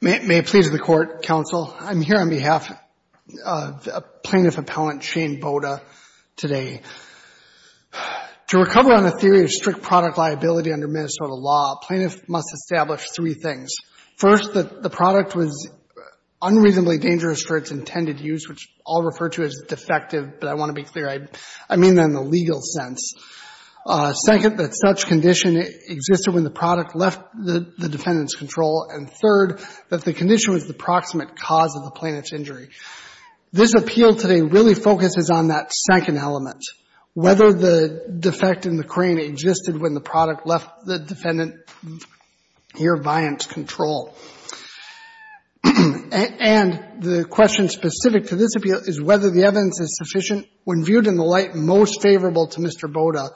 May it please the Court, Counsel. I'm here on behalf of Plaintiff Appellant Shane Boda today. To recover on a theory of strict product liability under Minnesota law, a plaintiff must establish three things. First, that the product was unreasonably dangerous for its intended use, which I'll refer to as defective, but I want to be clear, I mean that in the legal sense. Second, that such condition existed when the product left the defendant's control. And third, that the condition was the proximate cause of the plaintiff's injury. This appeal today really focuses on that second element, whether the defect in the defendant here, Viant, control. And the question specific to this appeal is whether the evidence is sufficient when viewed in the light most favorable to Mr. Boda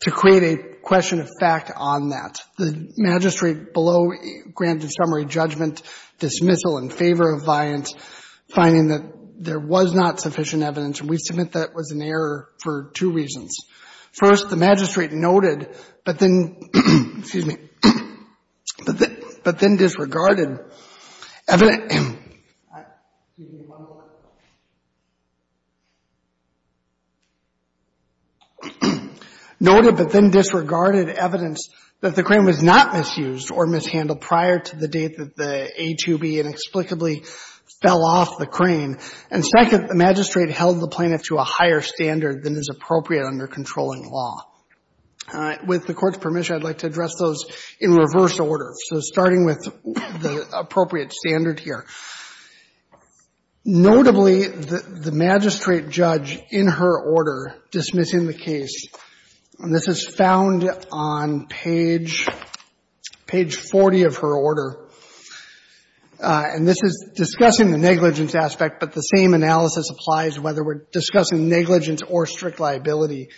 to create a question of fact on that. The magistrate below granted summary judgment dismissal in favor of Viant, finding that there was not sufficient evidence, and we submit that was an error for two reasons. First, the magistrate noted, but then, excuse me, but then disregarded evidence. Excuse me, one more. Noted, but then disregarded evidence that the crane was not misused or mishandled prior to the date that the A2B inexplicably fell off the crane. And second, the magistrate held the plaintiff to a higher standard than is appropriate under controlling law. With the Court's permission, I'd like to address those in reverse order. So starting with the appropriate standard here. Notably, the magistrate judge in her order dismissing the case, and this is found on page 40 of her order, and this is the same analysis applies whether we're discussing negligence or strict liability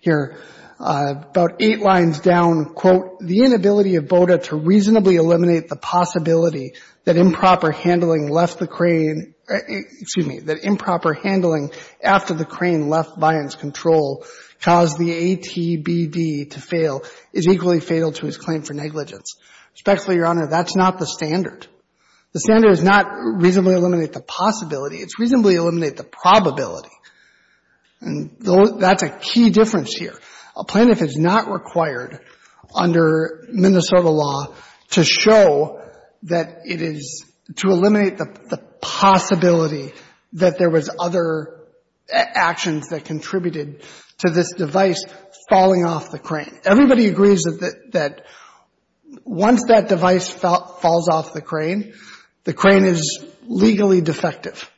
here. About eight lines down, quote, the inability of Boda to reasonably eliminate the possibility that improper handling left the crane — excuse me, that improper handling after the crane left Viant's control caused the ATBD to fail is equally fatal to his claim for negligence. Especially, Your Honor, that's not the standard. The standard does not reasonably eliminate the possibility. It's reasonably eliminate the probability. And that's a key difference here. A plaintiff is not required under Minnesota law to show that it is — to eliminate the possibility that there was other actions that contributed to this device falling off the crane. Everybody agrees that once that device falls off the crane, the crane is legally defective.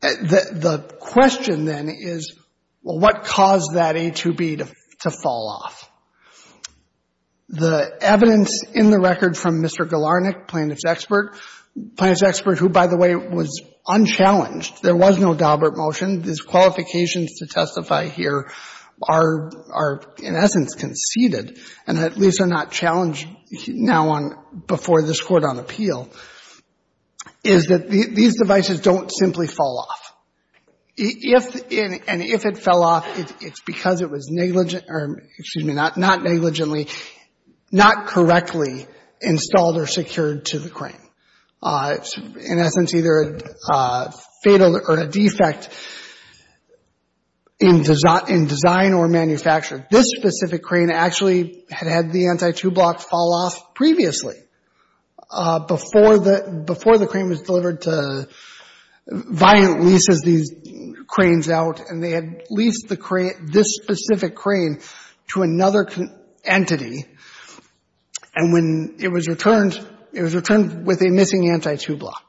The question then is, well, what caused that A2B to fall off? The evidence in the record from Mr. Galarnik, plaintiff's expert — plaintiff's expert who, by the way, was unchallenged — there was no Daubert motion. His qualifications to testify here are, in essence, conceded, and at least are not challenged now on — before this Court on appeal — is that these devices don't simply fall off. If — and if it fell off, it's because it was negligent — or, excuse me, not negligently — not correctly installed or secured to the crane. In essence, either a fatal or a defect in design or manufacture. This specific crane actually had had the anti-two-block fall off previously, before the — before the crane was delivered to — Violent leases these cranes out, and they leased the crane — this specific crane to another entity, and when it was returned, it was returned with a missing anti-two-block.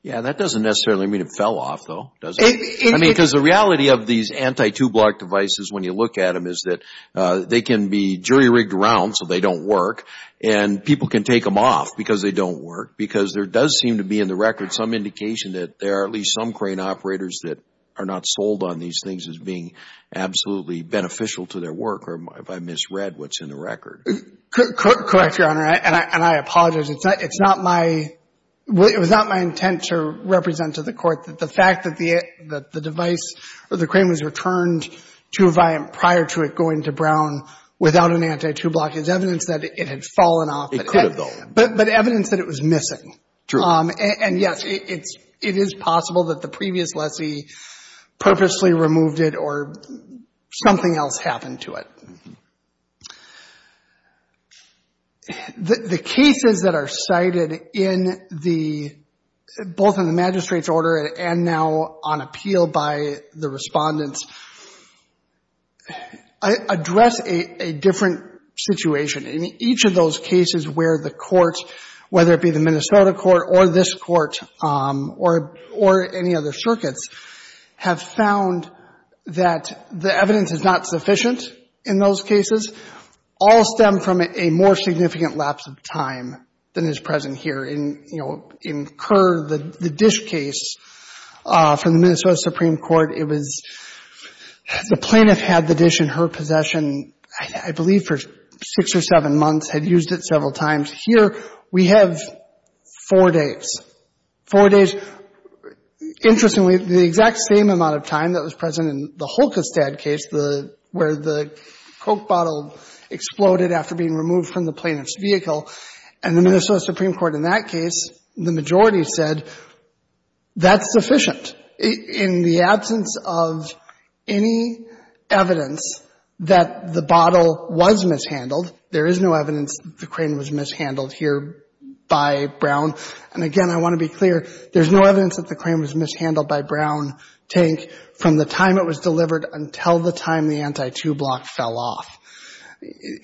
Yeah. That doesn't necessarily mean it fell off, though, does it? It — I mean, because the reality of these anti-two-block devices, when you look at them, is that they can be jury-rigged around so they don't work, and people can take them off because they don't work, because there does seem to be, in the record, some indication that there are at least some crane operators that are not sold on these things as being absolutely beneficial to their work, or if I misread what's in the record. Correct, Your Honor, and I apologize. It's not my — it was not my intent to represent to the Court that the fact that the device — that the crane was returned to Violent prior to it going to Brown without an anti-two-block is evidence that it had fallen off. It could have, though. But evidence that it was missing. True. And, yes, it is possible that the previous lessee purposely removed it or something else happened to it. The cases that are cited in the — both in the magistrate's order and now on appeal by the respondents address a different situation. In each of those cases where the court, whether it be the Minnesota court or this court or any other circuits, have found that the evidence is not sufficient in those cases, all stem from a more significant lapse of time than is present here. In, you know, in Kerr, the dish case from the Minnesota Supreme Court, it was — the several times. Here, we have four days. Four days. Interestingly, the exact same amount of time that was present in the Holkestad case, the — where the Coke bottle exploded after being removed from the plaintiff's vehicle, and the Minnesota Supreme Court in that case, the majority said, that's sufficient. In the absence of any evidence that the bottle was mishandled, there is no evidence that the crane was mishandled here by Brown. And, again, I want to be clear, there's no evidence that the crane was mishandled by Brown Tank from the time it was delivered until the time the anti-tube lock fell off.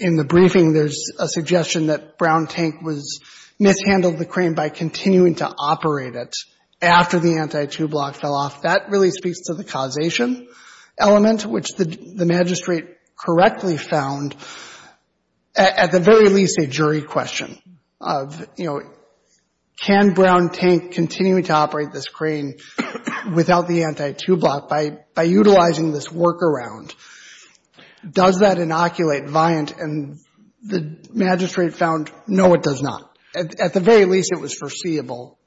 In the briefing, there's a suggestion that Brown Tank was — mishandled the crane by continuing to operate it after the anti-tube lock fell off. That really speaks to the causation element, which the magistrate correctly found at the very least a jury question of, you know, can Brown Tank continue to operate this crane without the anti-tube lock by utilizing this workaround? Does that inoculate Viant? And the magistrate found, no, it does not. At the very least, it was foreseeable.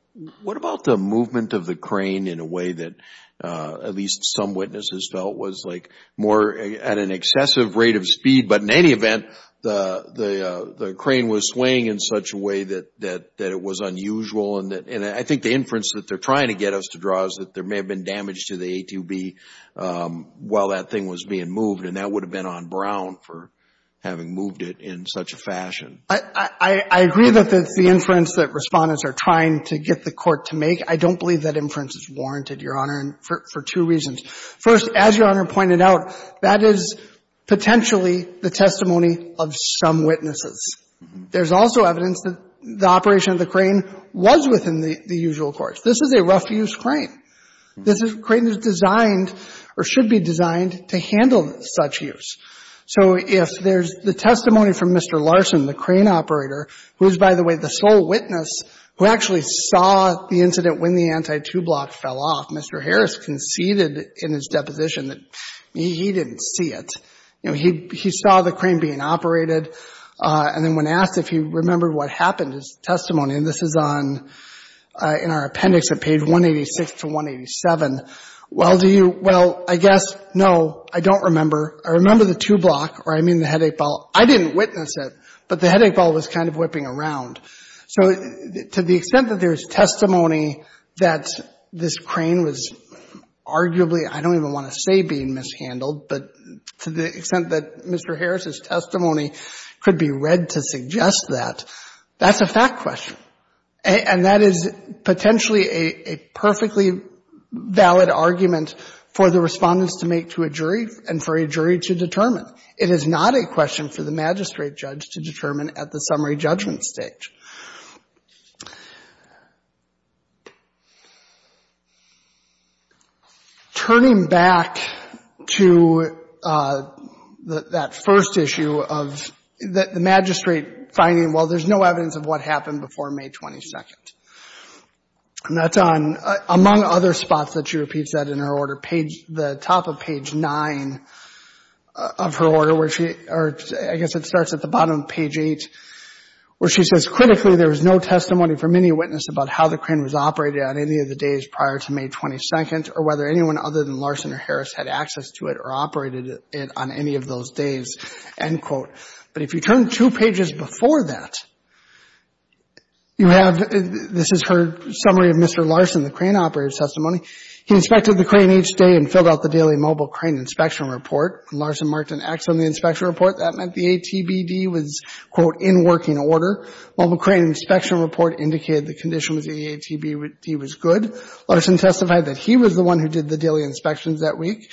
What about the movement of the crane in a way that at least some witnesses felt was like more at an excessive rate of speed, but in any event, the crane was swaying in such a way that it was unusual, and I think the inference that they're trying to get us to draw is that there may have been damage to the A2B while that thing was being moved, and that would have been on Brown for having moved it in such a fashion. I agree that it's the inference that Respondents are trying to get the Court to make. I don't believe that inference is warranted, Your Honor, for two reasons. First, as Your Honor pointed out, that is potentially the testimony of some witnesses. There's also evidence that the operation of the crane was within the usual course. This is a rough-use crane. This is a crane that's designed or should be designed to handle such use. So if there's the testimony from Mr. Larson, the crane operator, who is, by the way, the sole witness who actually saw the incident when the anti-two block fell off, Mr. Harris conceded in his deposition that he didn't see it. You know, he saw the crane being operated, and then when asked if he remembered what happened, his testimony, and this is on, in our appendix at page 186 to 187, well, do you, well, I guess, no, I don't remember. I remember the two block, or I mean the headache ball. I didn't witness it, but the headache ball was kind of whipping around. So to the extent that there's testimony that this crane was arguably, I don't even want to say being mishandled, but to the extent that Mr. Harris's testimony could be read to suggest that, that's a fact question. And that is potentially a perfectly valid argument for the respondents to make to a jury and for a jury to determine. It is not a question for the magistrate judge to determine at the summary judgment stage. Turning back to that first issue of the magistrate finding, well, there's no evidence of what happened before May 22nd. And that's on, among other spots that she repeats that in her order, page, the top of page nine of her order, where she, or I guess it starts at the bottom of page eight, where she says, critically, there was no testimony from any witness about how the crane was operated on any of the days prior to May 22nd, or whether anyone other than Larson or Harris had access to it or operated it on any of those days, end quote. But if you turn two pages before that, you have, this is her summary of Mr. Larson, the crane operator's testimony. He inspected the crane each day and filled out the daily mobile crane inspection report. Larson marked an X on the inspection report. That meant the ATBD was, quote, in working order. Mobile crane inspection report indicated the condition was the ATBD was good. Larson testified that he was the one who did the daily inspections that week.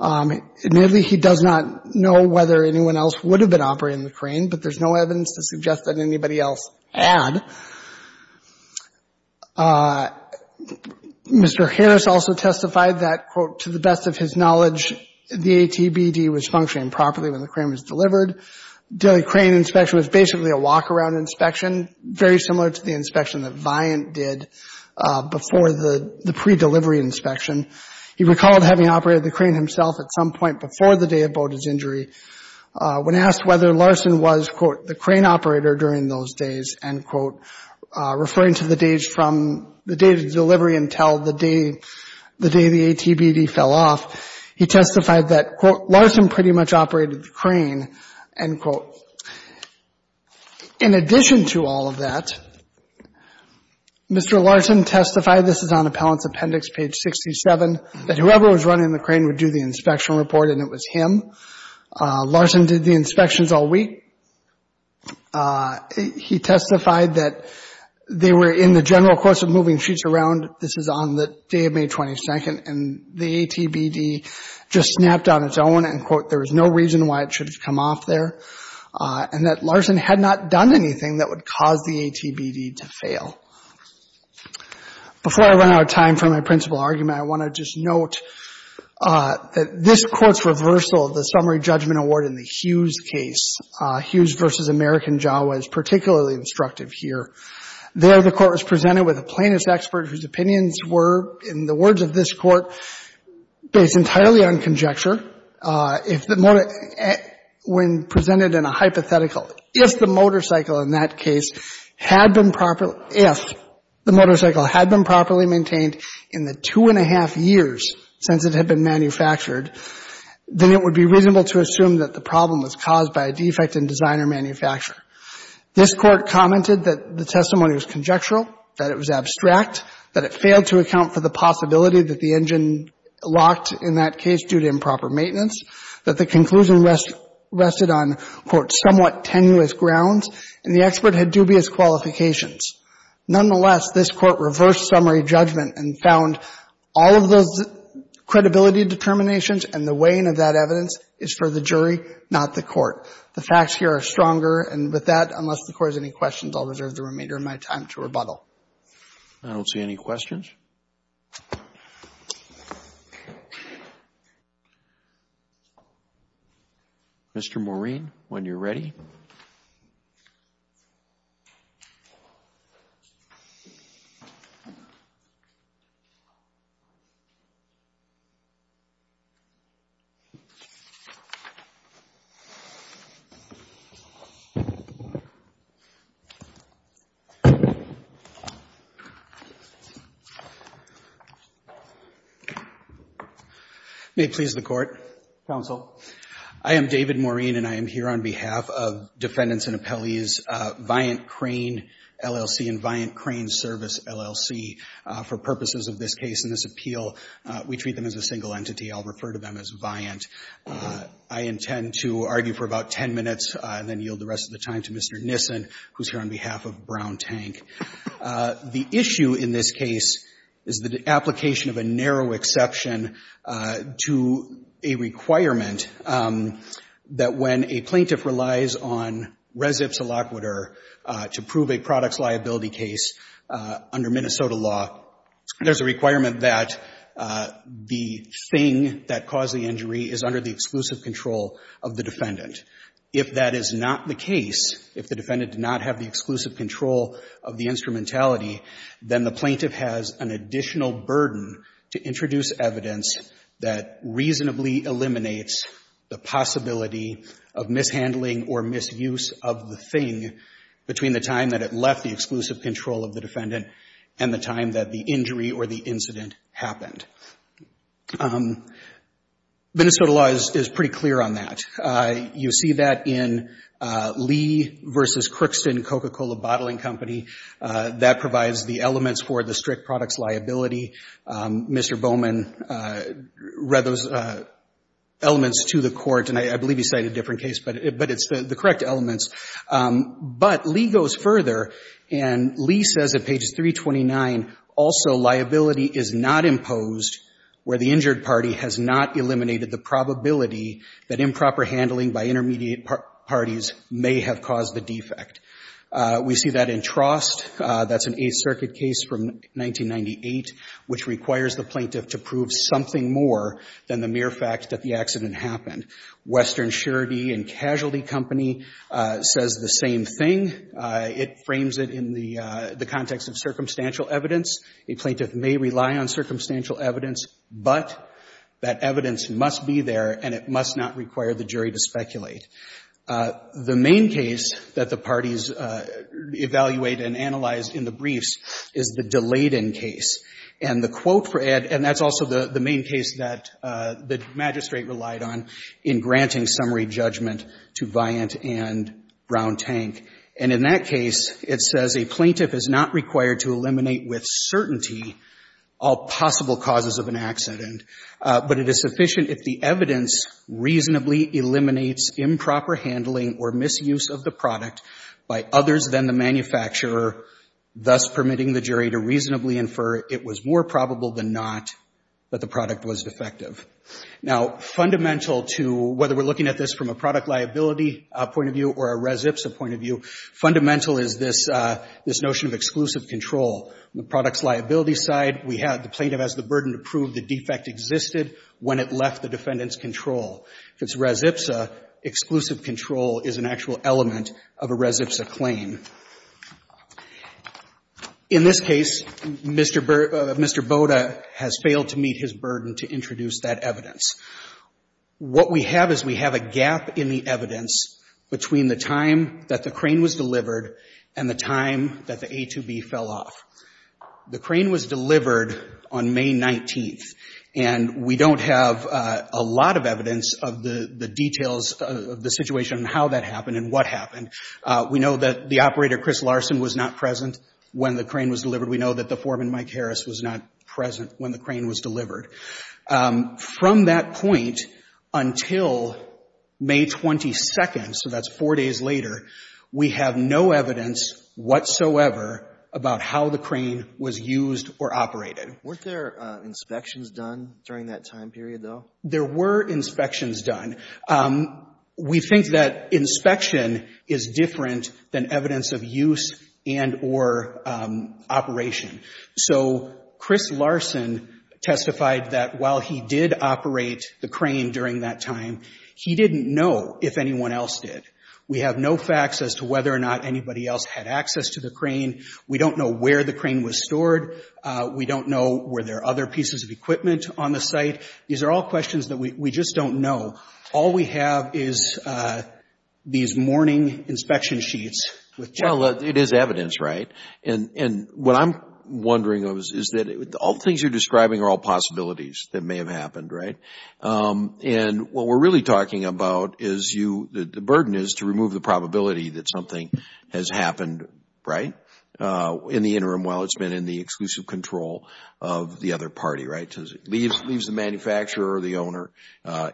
Admittedly, he does not know whether anyone else would have been operating the crane, but there's no evidence to suggest that anybody else had. Mr. Harris also testified that, quote, to the best of his knowledge, the ATBD was functioning properly when the crane was delivered. Daily crane inspection was basically a walk-around inspection, very similar to the inspection that Viant did before the pre-delivery inspection. He recalled having operated the crane himself at some point before the day of Boda's injury. When asked whether Larson was, quote, the crane operator during those days, end quote, referring to the days from the day of delivery until the day the ATBD fell off, he testified that, quote, Larson pretty much operated the crane, end quote. In addition to all of that, Mr. Larson testified, this is on Appellant's Appendix, page 67, that whoever was running the crane would do the inspection report and it was him. Larson did the inspections all week. He testified that they were in the general course of moving sheets around, this is on the day of May 22nd, and the ATBD just snapped on its own, end quote. There was no reason why it should have come off there, and that Larson had not done anything that would cause the ATBD to fail. Before I run out of time for my principal argument, I want to just note that this Court's reversal of the summary judgment award in the Hughes case, Hughes v. American Jawa, is particularly instructive here. There, the Court was presented with a plaintiff's expert whose opinions were, in the words of this Court, based entirely on conjecture. If the motor, when presented in a hypothetical, if the motorcycle in that case had been properly, if the motorcycle had been properly maintained in the two and a half years since it had been manufactured, then it would be reasonable to assume that the problem was caused by a defect in designer-manufacturer. This Court commented that the testimony was conjectural, that it was abstract, that it failed to account for the possibility that the engine locked in that case due to improper maintenance, that the conclusion rested on, quote, somewhat tenuous grounds, and the expert had dubious qualifications. Nonetheless, this Court reversed summary judgment and found all of those credibility determinations and the weighing of that evidence is for the jury, not the Court. The facts here are stronger, and with that, unless the Court has any questions, I'll reserve the remainder of my time to rebuttal. Roberts. I don't see any questions. Mr. Maureen, when you're ready. May it please the Court, Counsel. I am David Maureen, and I am here on behalf of Defendants and Appellees Viant Crane, LLC and Viant Crane Service, LLC. For purposes of this case and this appeal, we treat them as a single entity. I'll refer to them as Viant. I intend to argue for about ten minutes and then yield the rest of the time to Mr. Nissen, who's here on behalf of Brown Tank. The issue in this case is the application of a narrow exception to a requirement that when a plaintiff relies on res ipsa laquitur to prove a products liability case under Minnesota law, there's a requirement that the thing that caused the injury is under the exclusive control of the defendant. If that is not the case, if the defendant did not have the exclusive control of the instrumentality, then the plaintiff has an additional burden to introduce evidence that reasonably eliminates the possibility of mishandling or misuse of the thing between the time that it left the exclusive control of the defendant and the time that the injury or the incident happened. Minnesota law is pretty clear on that. You see that in Lee versus Crookston Coca-Cola Bottling Company. That provides the elements for the strict products liability. Mr. Bowman read those elements to the court, and I believe he cited a different case, but it's the correct elements. But Lee goes further, and Lee says at page 329, also liability is not imposed where the injured party has not eliminated the probability that improper handling by intermediate parties may have caused the defect. We see that in Trost, that's an Eighth Circuit case from 1998, which requires the plaintiff to prove something more than the mere fact that the accident happened. Western Surety and Casualty Company says the same thing. It frames it in the context of circumstantial evidence. A plaintiff may rely on circumstantial evidence, but that evidence must be there, and it must not require the jury to speculate. The main case that the parties evaluate and analyze in the briefs is the Delayden case. And the quote for it, and that's also the main case that the magistrate relied on in granting summary judgment to Viant and Brown Tank. And in that case, it says a plaintiff is not required to eliminate with certainty all possible causes of an accident. But it is sufficient if the evidence reasonably eliminates improper handling or misuse of the product by others than the manufacturer, thus permitting the jury to reasonably infer it was more probable than not that the product was defective. Now, fundamental to whether we're looking at this from a product liability point of view or a res ipsa point of view, fundamental is this notion of exclusive control. The product's liability side, we have the plaintiff has the burden to prove the defect existed when it left the defendant's control. If it's res ipsa, exclusive control is an actual element of a res ipsa claim. In this case, Mr. Boda has failed to meet his burden to introduce that evidence. What we have is we have a gap in the evidence between the time that the crane was delivered and the time that the A2B fell off. The crane was delivered on May 19th, and we don't have a lot of evidence of the details of the situation and how that happened and what happened. We know that the operator, Chris Larson, was not present when the crane was delivered. We know that the foreman, Mike Harris, was not present when the crane was delivered. From that point until May 22nd, so that's four days later, we have no evidence whatsoever about how the crane was used or operated. Weren't there inspections done during that time period, though? There were inspections done. We think that inspection is different than evidence of use and or operation. So Chris Larson testified that while he did operate the crane during that time, he didn't know if anyone else did. We have no facts as to whether or not anybody else had access to the crane. We don't know where the crane was stored. We don't know were there other pieces of equipment on the site. These are all questions that we just don't know. All we have is these morning inspection sheets. Well, it is evidence, right? And what I'm wondering is that all things you're describing are all possibilities that may have happened, right? And what we're really talking about is the burden is to remove the probability that something has happened, right, in the interim while it's been in the exclusive control of the other party, right? It leaves the manufacturer or the owner.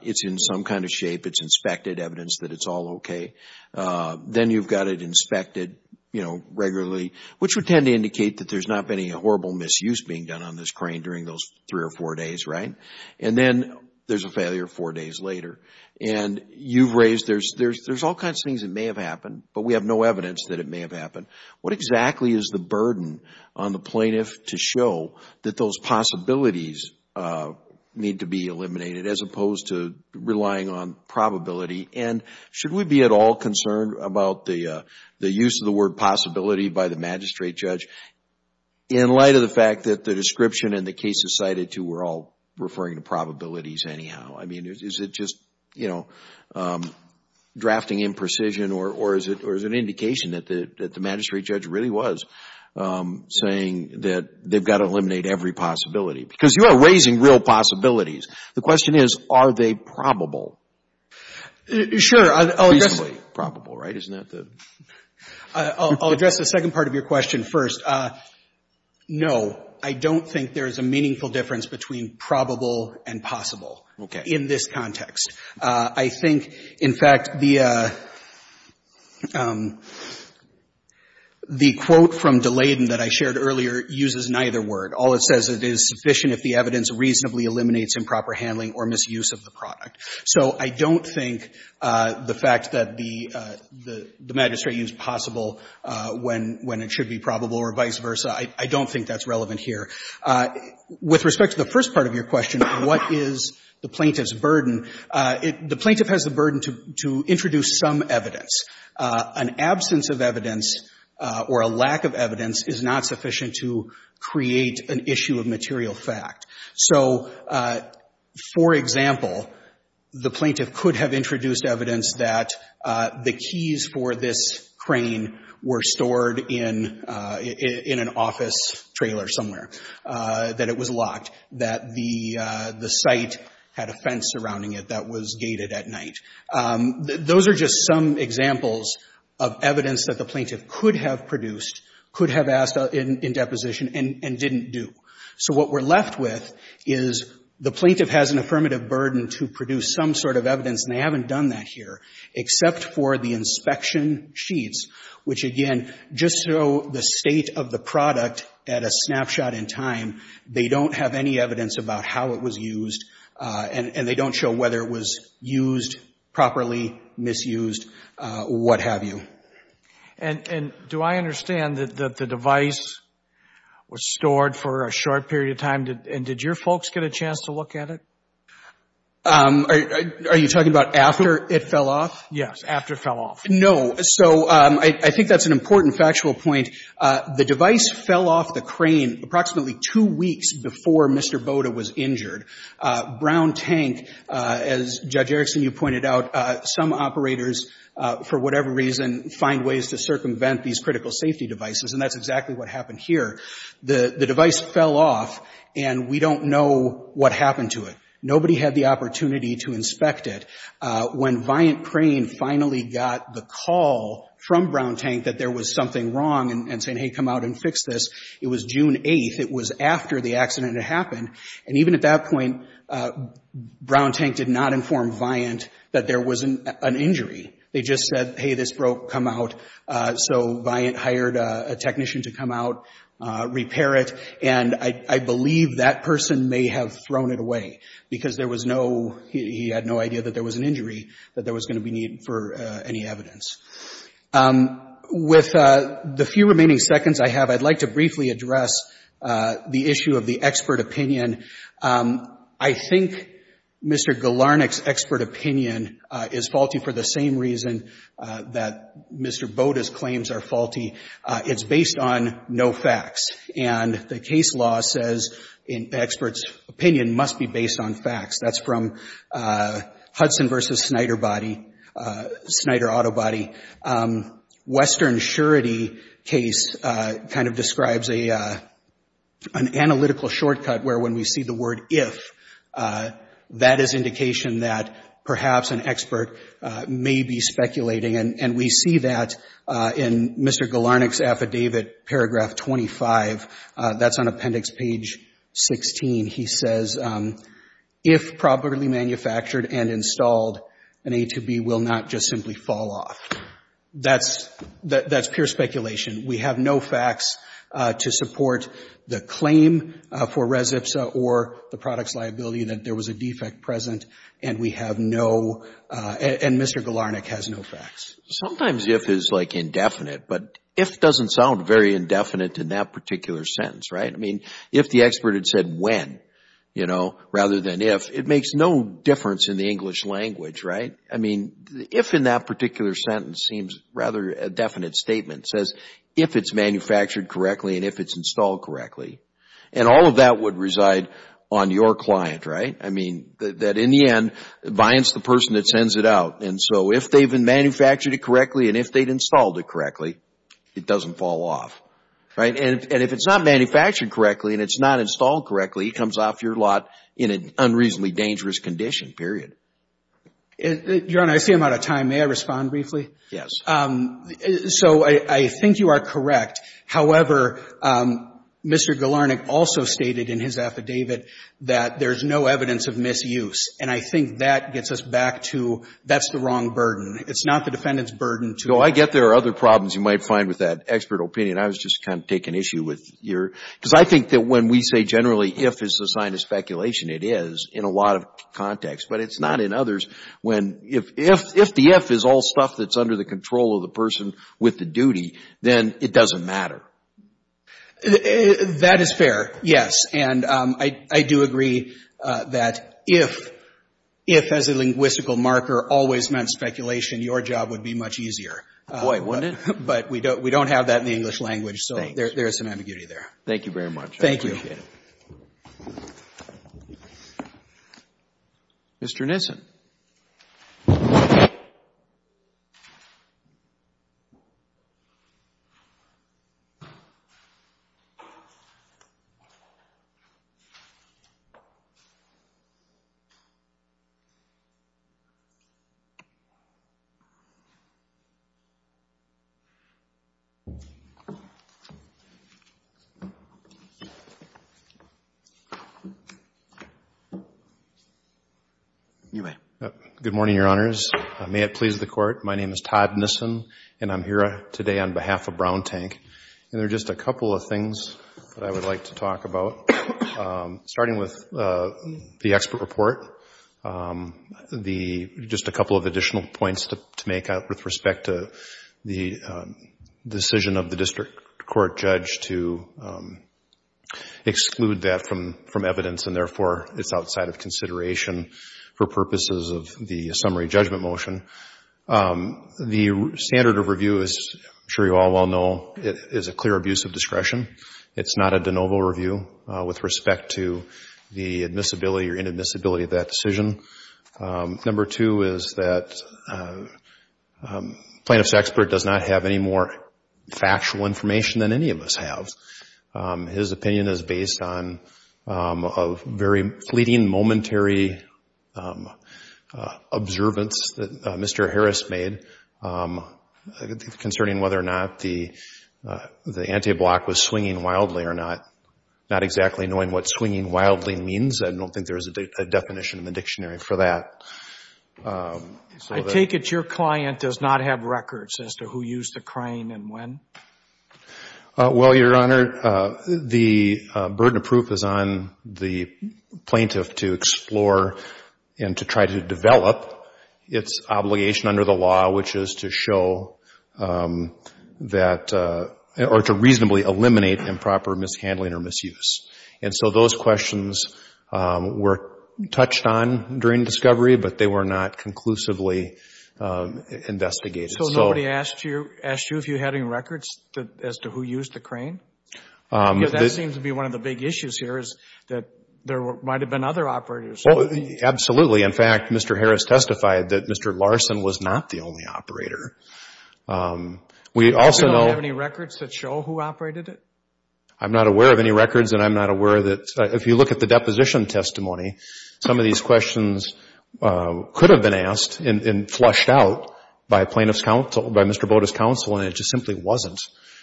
It's in some kind of shape. It's inspected evidence that it's all okay. Then you've got it inspected, you know, regularly, which would tend to indicate that there's not been any horrible misuse being done on this crane during those three or four days, right? And then there's a failure four days later. And you've raised there's all kinds of things that may have happened, but we have no evidence that it may have happened. What exactly is the burden on the plaintiff to show that those possibilities need to be eliminated as opposed to relying on probability? And should we be at all concerned about the use of the word possibility by the magistrate judge in light of the fact that the description and the cases cited to were all referring to probabilities anyhow? I mean, is it just, you know, drafting imprecision or is it an indication that the magistrate judge really was saying that they've got to eliminate every possibility? Because you are raising real possibilities. The question is, are they probable? Sure, I'll address the second part of your question first. No, I don't think there is a meaningful difference between probable and possible. Okay. In this context. I think, in fact, the quote from DeLayden that I shared earlier uses neither word. All it says is it is sufficient if the evidence reasonably eliminates improper handling or misuse of the product. So I don't think the fact that the magistrate used possible when it should be probable or vice versa, I don't think that's relevant here. With respect to the first part of your question, what is the plaintiff's burden? The plaintiff has the burden to introduce some evidence. An absence of evidence or a lack of evidence is not sufficient to create an issue of material fact. So, for example, the plaintiff could have introduced evidence that the keys for this crane were stored in an office trailer somewhere. That it was locked, that the site had a fence surrounding it that was gated at night. Those are just some examples of evidence that the plaintiff could have produced, could have asked in deposition, and didn't do. So what we're left with is the plaintiff has an affirmative burden to produce some sort of evidence, and they haven't done that here. Except for the inspection sheets, which, again, just show the state of the product at a snapshot in time. They don't have any evidence about how it was used, and they don't show whether it was used properly, misused, what have you. And do I understand that the device was stored for a short period of time, and did your folks get a chance to look at it? Are you talking about after it fell off? Yes, after it fell off. No. So I think that's an important factual point. The device fell off the crane approximately two weeks before Mr. Boda was injured. Brown Tank, as Judge Erickson, you pointed out, some operators, for whatever reason, find ways to circumvent these critical safety devices, and that's exactly what happened here. The device fell off, and we don't know what happened to it. Nobody had the opportunity to inspect it. When Viant Crane finally got the call from Brown Tank that there was something wrong and saying, hey, come out and fix this, it was June 8th. It was after the accident had happened, and even at that point, Brown Tank did not inform Viant that there was an injury. They just said, hey, this broke. Come out. So Viant hired a technician to come out, repair it, and I believe that person may have thrown it away. Because there was no, he had no idea that there was an injury, that there was going to be needed for any evidence. With the few remaining seconds I have, I'd like to briefly address the issue of the expert opinion. I think Mr. Galarnik's expert opinion is faulty for the same reason that Mr. Boda's claims are faulty. It's based on no facts, and the case law says an expert's opinion must be based on facts. That's from Hudson v. Snyder Body, Snyder Auto Body. Western surety case kind of describes an analytical shortcut where when we see the word if, that is indication that perhaps an expert may be speculating. And we see that in Mr. Galarnik's affidavit, paragraph 25. That's on appendix page 16. He says, if properly manufactured and installed, an A to B will not just simply fall off. That's pure speculation. We have no facts to support the claim for res ipsa or the product's liability that there was a defect present, and we have no, and Mr. Galarnik has no facts. Sometimes if is like indefinite, but if doesn't sound very indefinite in that particular sentence, right? I mean, if the expert had said when, you know, rather than if, it makes no difference in the English language, right? I mean, if in that particular sentence seems rather a definite statement, says if it's manufactured correctly and if it's installed correctly. And all of that would reside on your client, right? I mean, that in the end, the client's the person that sends it out. And so, if they've been manufactured correctly and if they'd installed it correctly, it doesn't fall off, right? And if it's not manufactured correctly and it's not installed correctly, it comes off your lot in an unreasonably dangerous condition, period. Your Honor, I see I'm out of time. May I respond briefly? Yes. So, I think you are correct. However, Mr. Galarnik also stated in his affidavit that there's no evidence of misuse. And I think that gets us back to that's the wrong burden. It's not the defendant's burden to... So, I get there are other problems you might find with that expert opinion. I was just kind of taking issue with your... Because I think that when we say generally if is a sign of speculation, it is in a lot of contexts. But it's not in others when if the if is all stuff that's under the control of the person with the duty, then it doesn't matter. That is fair, yes. And I do agree that if, if as a linguistical marker always meant speculation, your job would be much easier. Boy, wouldn't it? But we don't have that in the English language. So, there is some ambiguity there. Thank you very much. Thank you. I appreciate it. Mr. Nissen. Good morning, your honors. May it please the court. My name is Todd Nissen, and I'm here today on behalf of Brown Tank. And there are just a couple of things that I would like to talk about. Starting with the expert report, just a couple of additional points to make with respect to the decision of the district court judge to exclude that from evidence. And therefore, it's outside of consideration for purposes of the summary judgment motion. The standard of review, as I'm sure you all well know, is a clear abuse of discretion. It's not a de novo review with respect to the admissibility or inadmissibility of that decision. Number two is that plaintiff's expert does not have any more factual information than any of us have. His opinion is based on a very fleeting, momentary observance that Mr. Harris made concerning whether or not the anti-block was swinging wildly or not. Not exactly knowing what swinging wildly means. I don't think there is a definition in the dictionary for that. I take it your client does not have records as to who used the crane and when? Well, Your Honor, the burden of proof is on the plaintiff to explore and to try to develop its obligation under the law, which is to show that or to reasonably eliminate improper mishandling or misuse. And so those questions were touched on during discovery, but they were not conclusively investigated. So nobody asked you if you had any records as to who used the crane? Because that seems to be one of the big issues here is that there might have been other operators. Absolutely. In fact, Mr. Harris testified that Mr. Larson was not the only operator. We also know... Do you have any records that show who operated it? I'm not aware of any records and I'm not aware that if you look at the deposition testimony, some of these questions could have been asked and flushed out by a plaintiff's counsel, by Mr. Boda's counsel, and it just simply wasn't.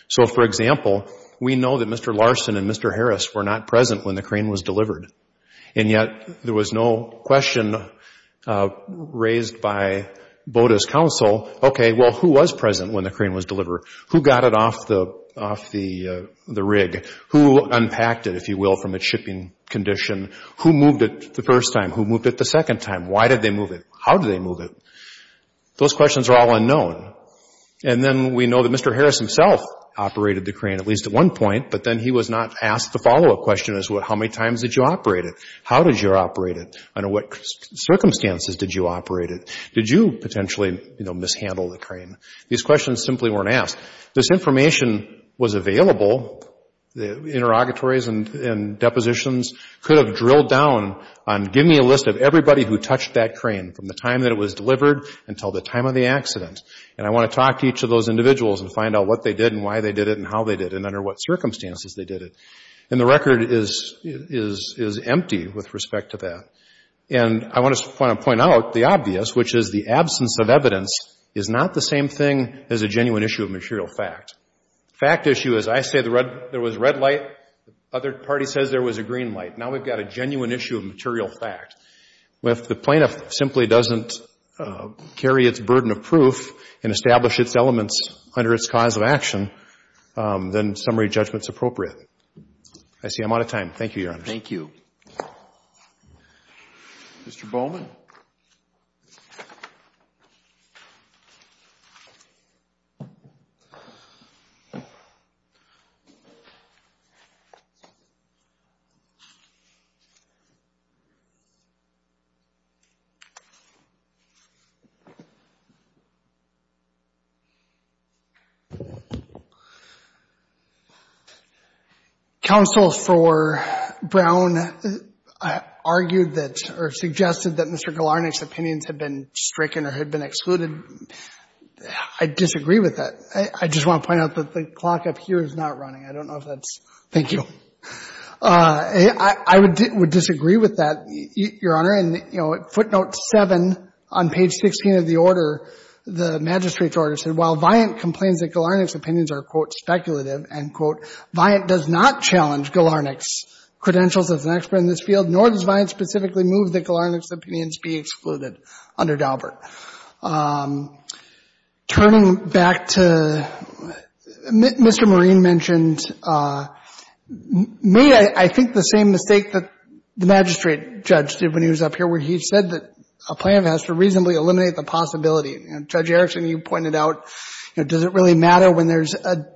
So, for example, we know that Mr. Larson and Mr. Harris were not present when the crane was delivered. And yet there was no question raised by Boda's counsel, okay, well, who was present when the crane was delivered? Who got it off the rig? Who unpacked it, if you will, from its shipping condition? Who moved it the first time? Who moved it the second time? Why did they move it? How did they move it? Those questions are all unknown. And then we know that Mr. Harris himself operated the crane at least at one point, but then he was not asked the follow-up question as to how many times did you operate it? How did you operate it? Under what circumstances did you operate it? Did you potentially, you know, mishandle the crane? These questions simply weren't asked. This information was available, the interrogatories and depositions, could have drilled down on give me a list of everybody who touched that crane from the time that it was delivered until the time of the accident. And I want to talk to each of those individuals and find out what they did and why they did it and how they did it and under what circumstances they did it. And the record is empty with respect to that. And I want to point out the obvious, which is the absence of evidence is not the same thing as a genuine issue of material fact. Fact issue is I say there was red light, the other party says there was a green light. Now we've got a genuine issue of material fact. If the plaintiff simply doesn't carry its burden of proof and establish its elements under its cause of action, then summary judgment is appropriate. I see I'm out of time. Thank you, Your Honor. Thank you. Mr. Bowman. Counsel for Brown argued that or suggested that Mr. Galarnik's opinions had been stricken or had been excluded. I disagree with that. I just want to point out that the clock up here is not running. I don't know if that's, thank you. I would disagree with that, Your Honor. And, you know, footnote 7 on page 16 of the order, the magistrate's order said while Viant complains that Galarnik's opinions are, quote, speculative, end quote, Viant does not challenge Galarnik's credentials as an expert in this field, nor does Viant specifically move that Galarnik's opinions be excluded under Daubert. Turning back to, Mr. Marine mentioned, made I think the same mistake that the magistrate judge did when he was up here where he said that a plaintiff has to reasonably eliminate the possibility. Judge Erickson, you pointed out, you know, does it really matter when there's a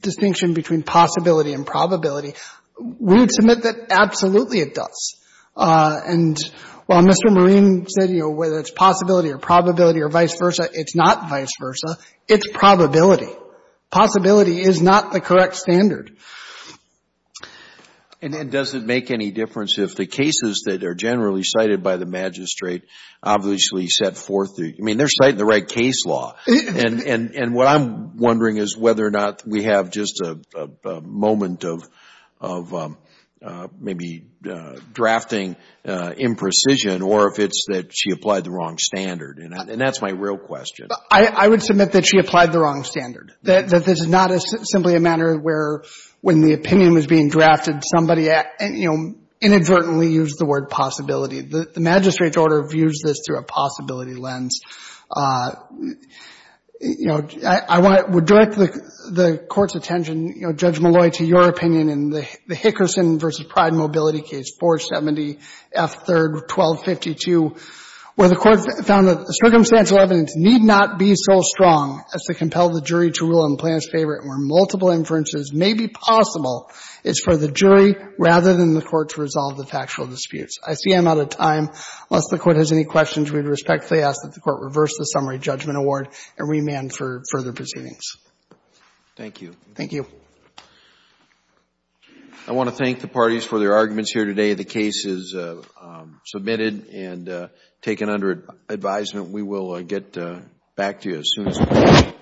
distinction between possibility and probability? We would submit that absolutely it does. And while Mr. Marine said, you know, whether it's possibility or probability or vice versa, it's not vice versa. It's probability. Possibility is not the correct standard. And does it make any difference if the cases that are generally cited by the magistrate obviously set forth the, I mean, they're citing the right case law. And what I'm wondering is whether or not we have just a moment of maybe drafting imprecision or if it's that she applied the wrong standard. And that's my real question. I would submit that she applied the wrong standard. That this is not simply a matter where when the opinion was being drafted, somebody inadvertently used the word possibility. The magistrate's order views this through a possibility lens. You know, I would direct the Court's attention, Judge Malloy, to your opinion in the Hickerson v. Pride Mobility Case 470 F. 3rd, 1252, where the Court found that the circumstantial evidence need not be so strong as to compel the jury to rule in the plaintiff's favor and where multiple inferences may be possible is for the jury rather than the Court to resolve the factual disputes. I see I'm out of time. Unless the Court has any questions, we respectfully ask that the Court reverse the summary judgment award and remand for further proceedings. Thank you. Thank you. I want to thank the parties for their arguments here today. The case is submitted and taken under advisement. We will get back to you as soon as we can. Thank you.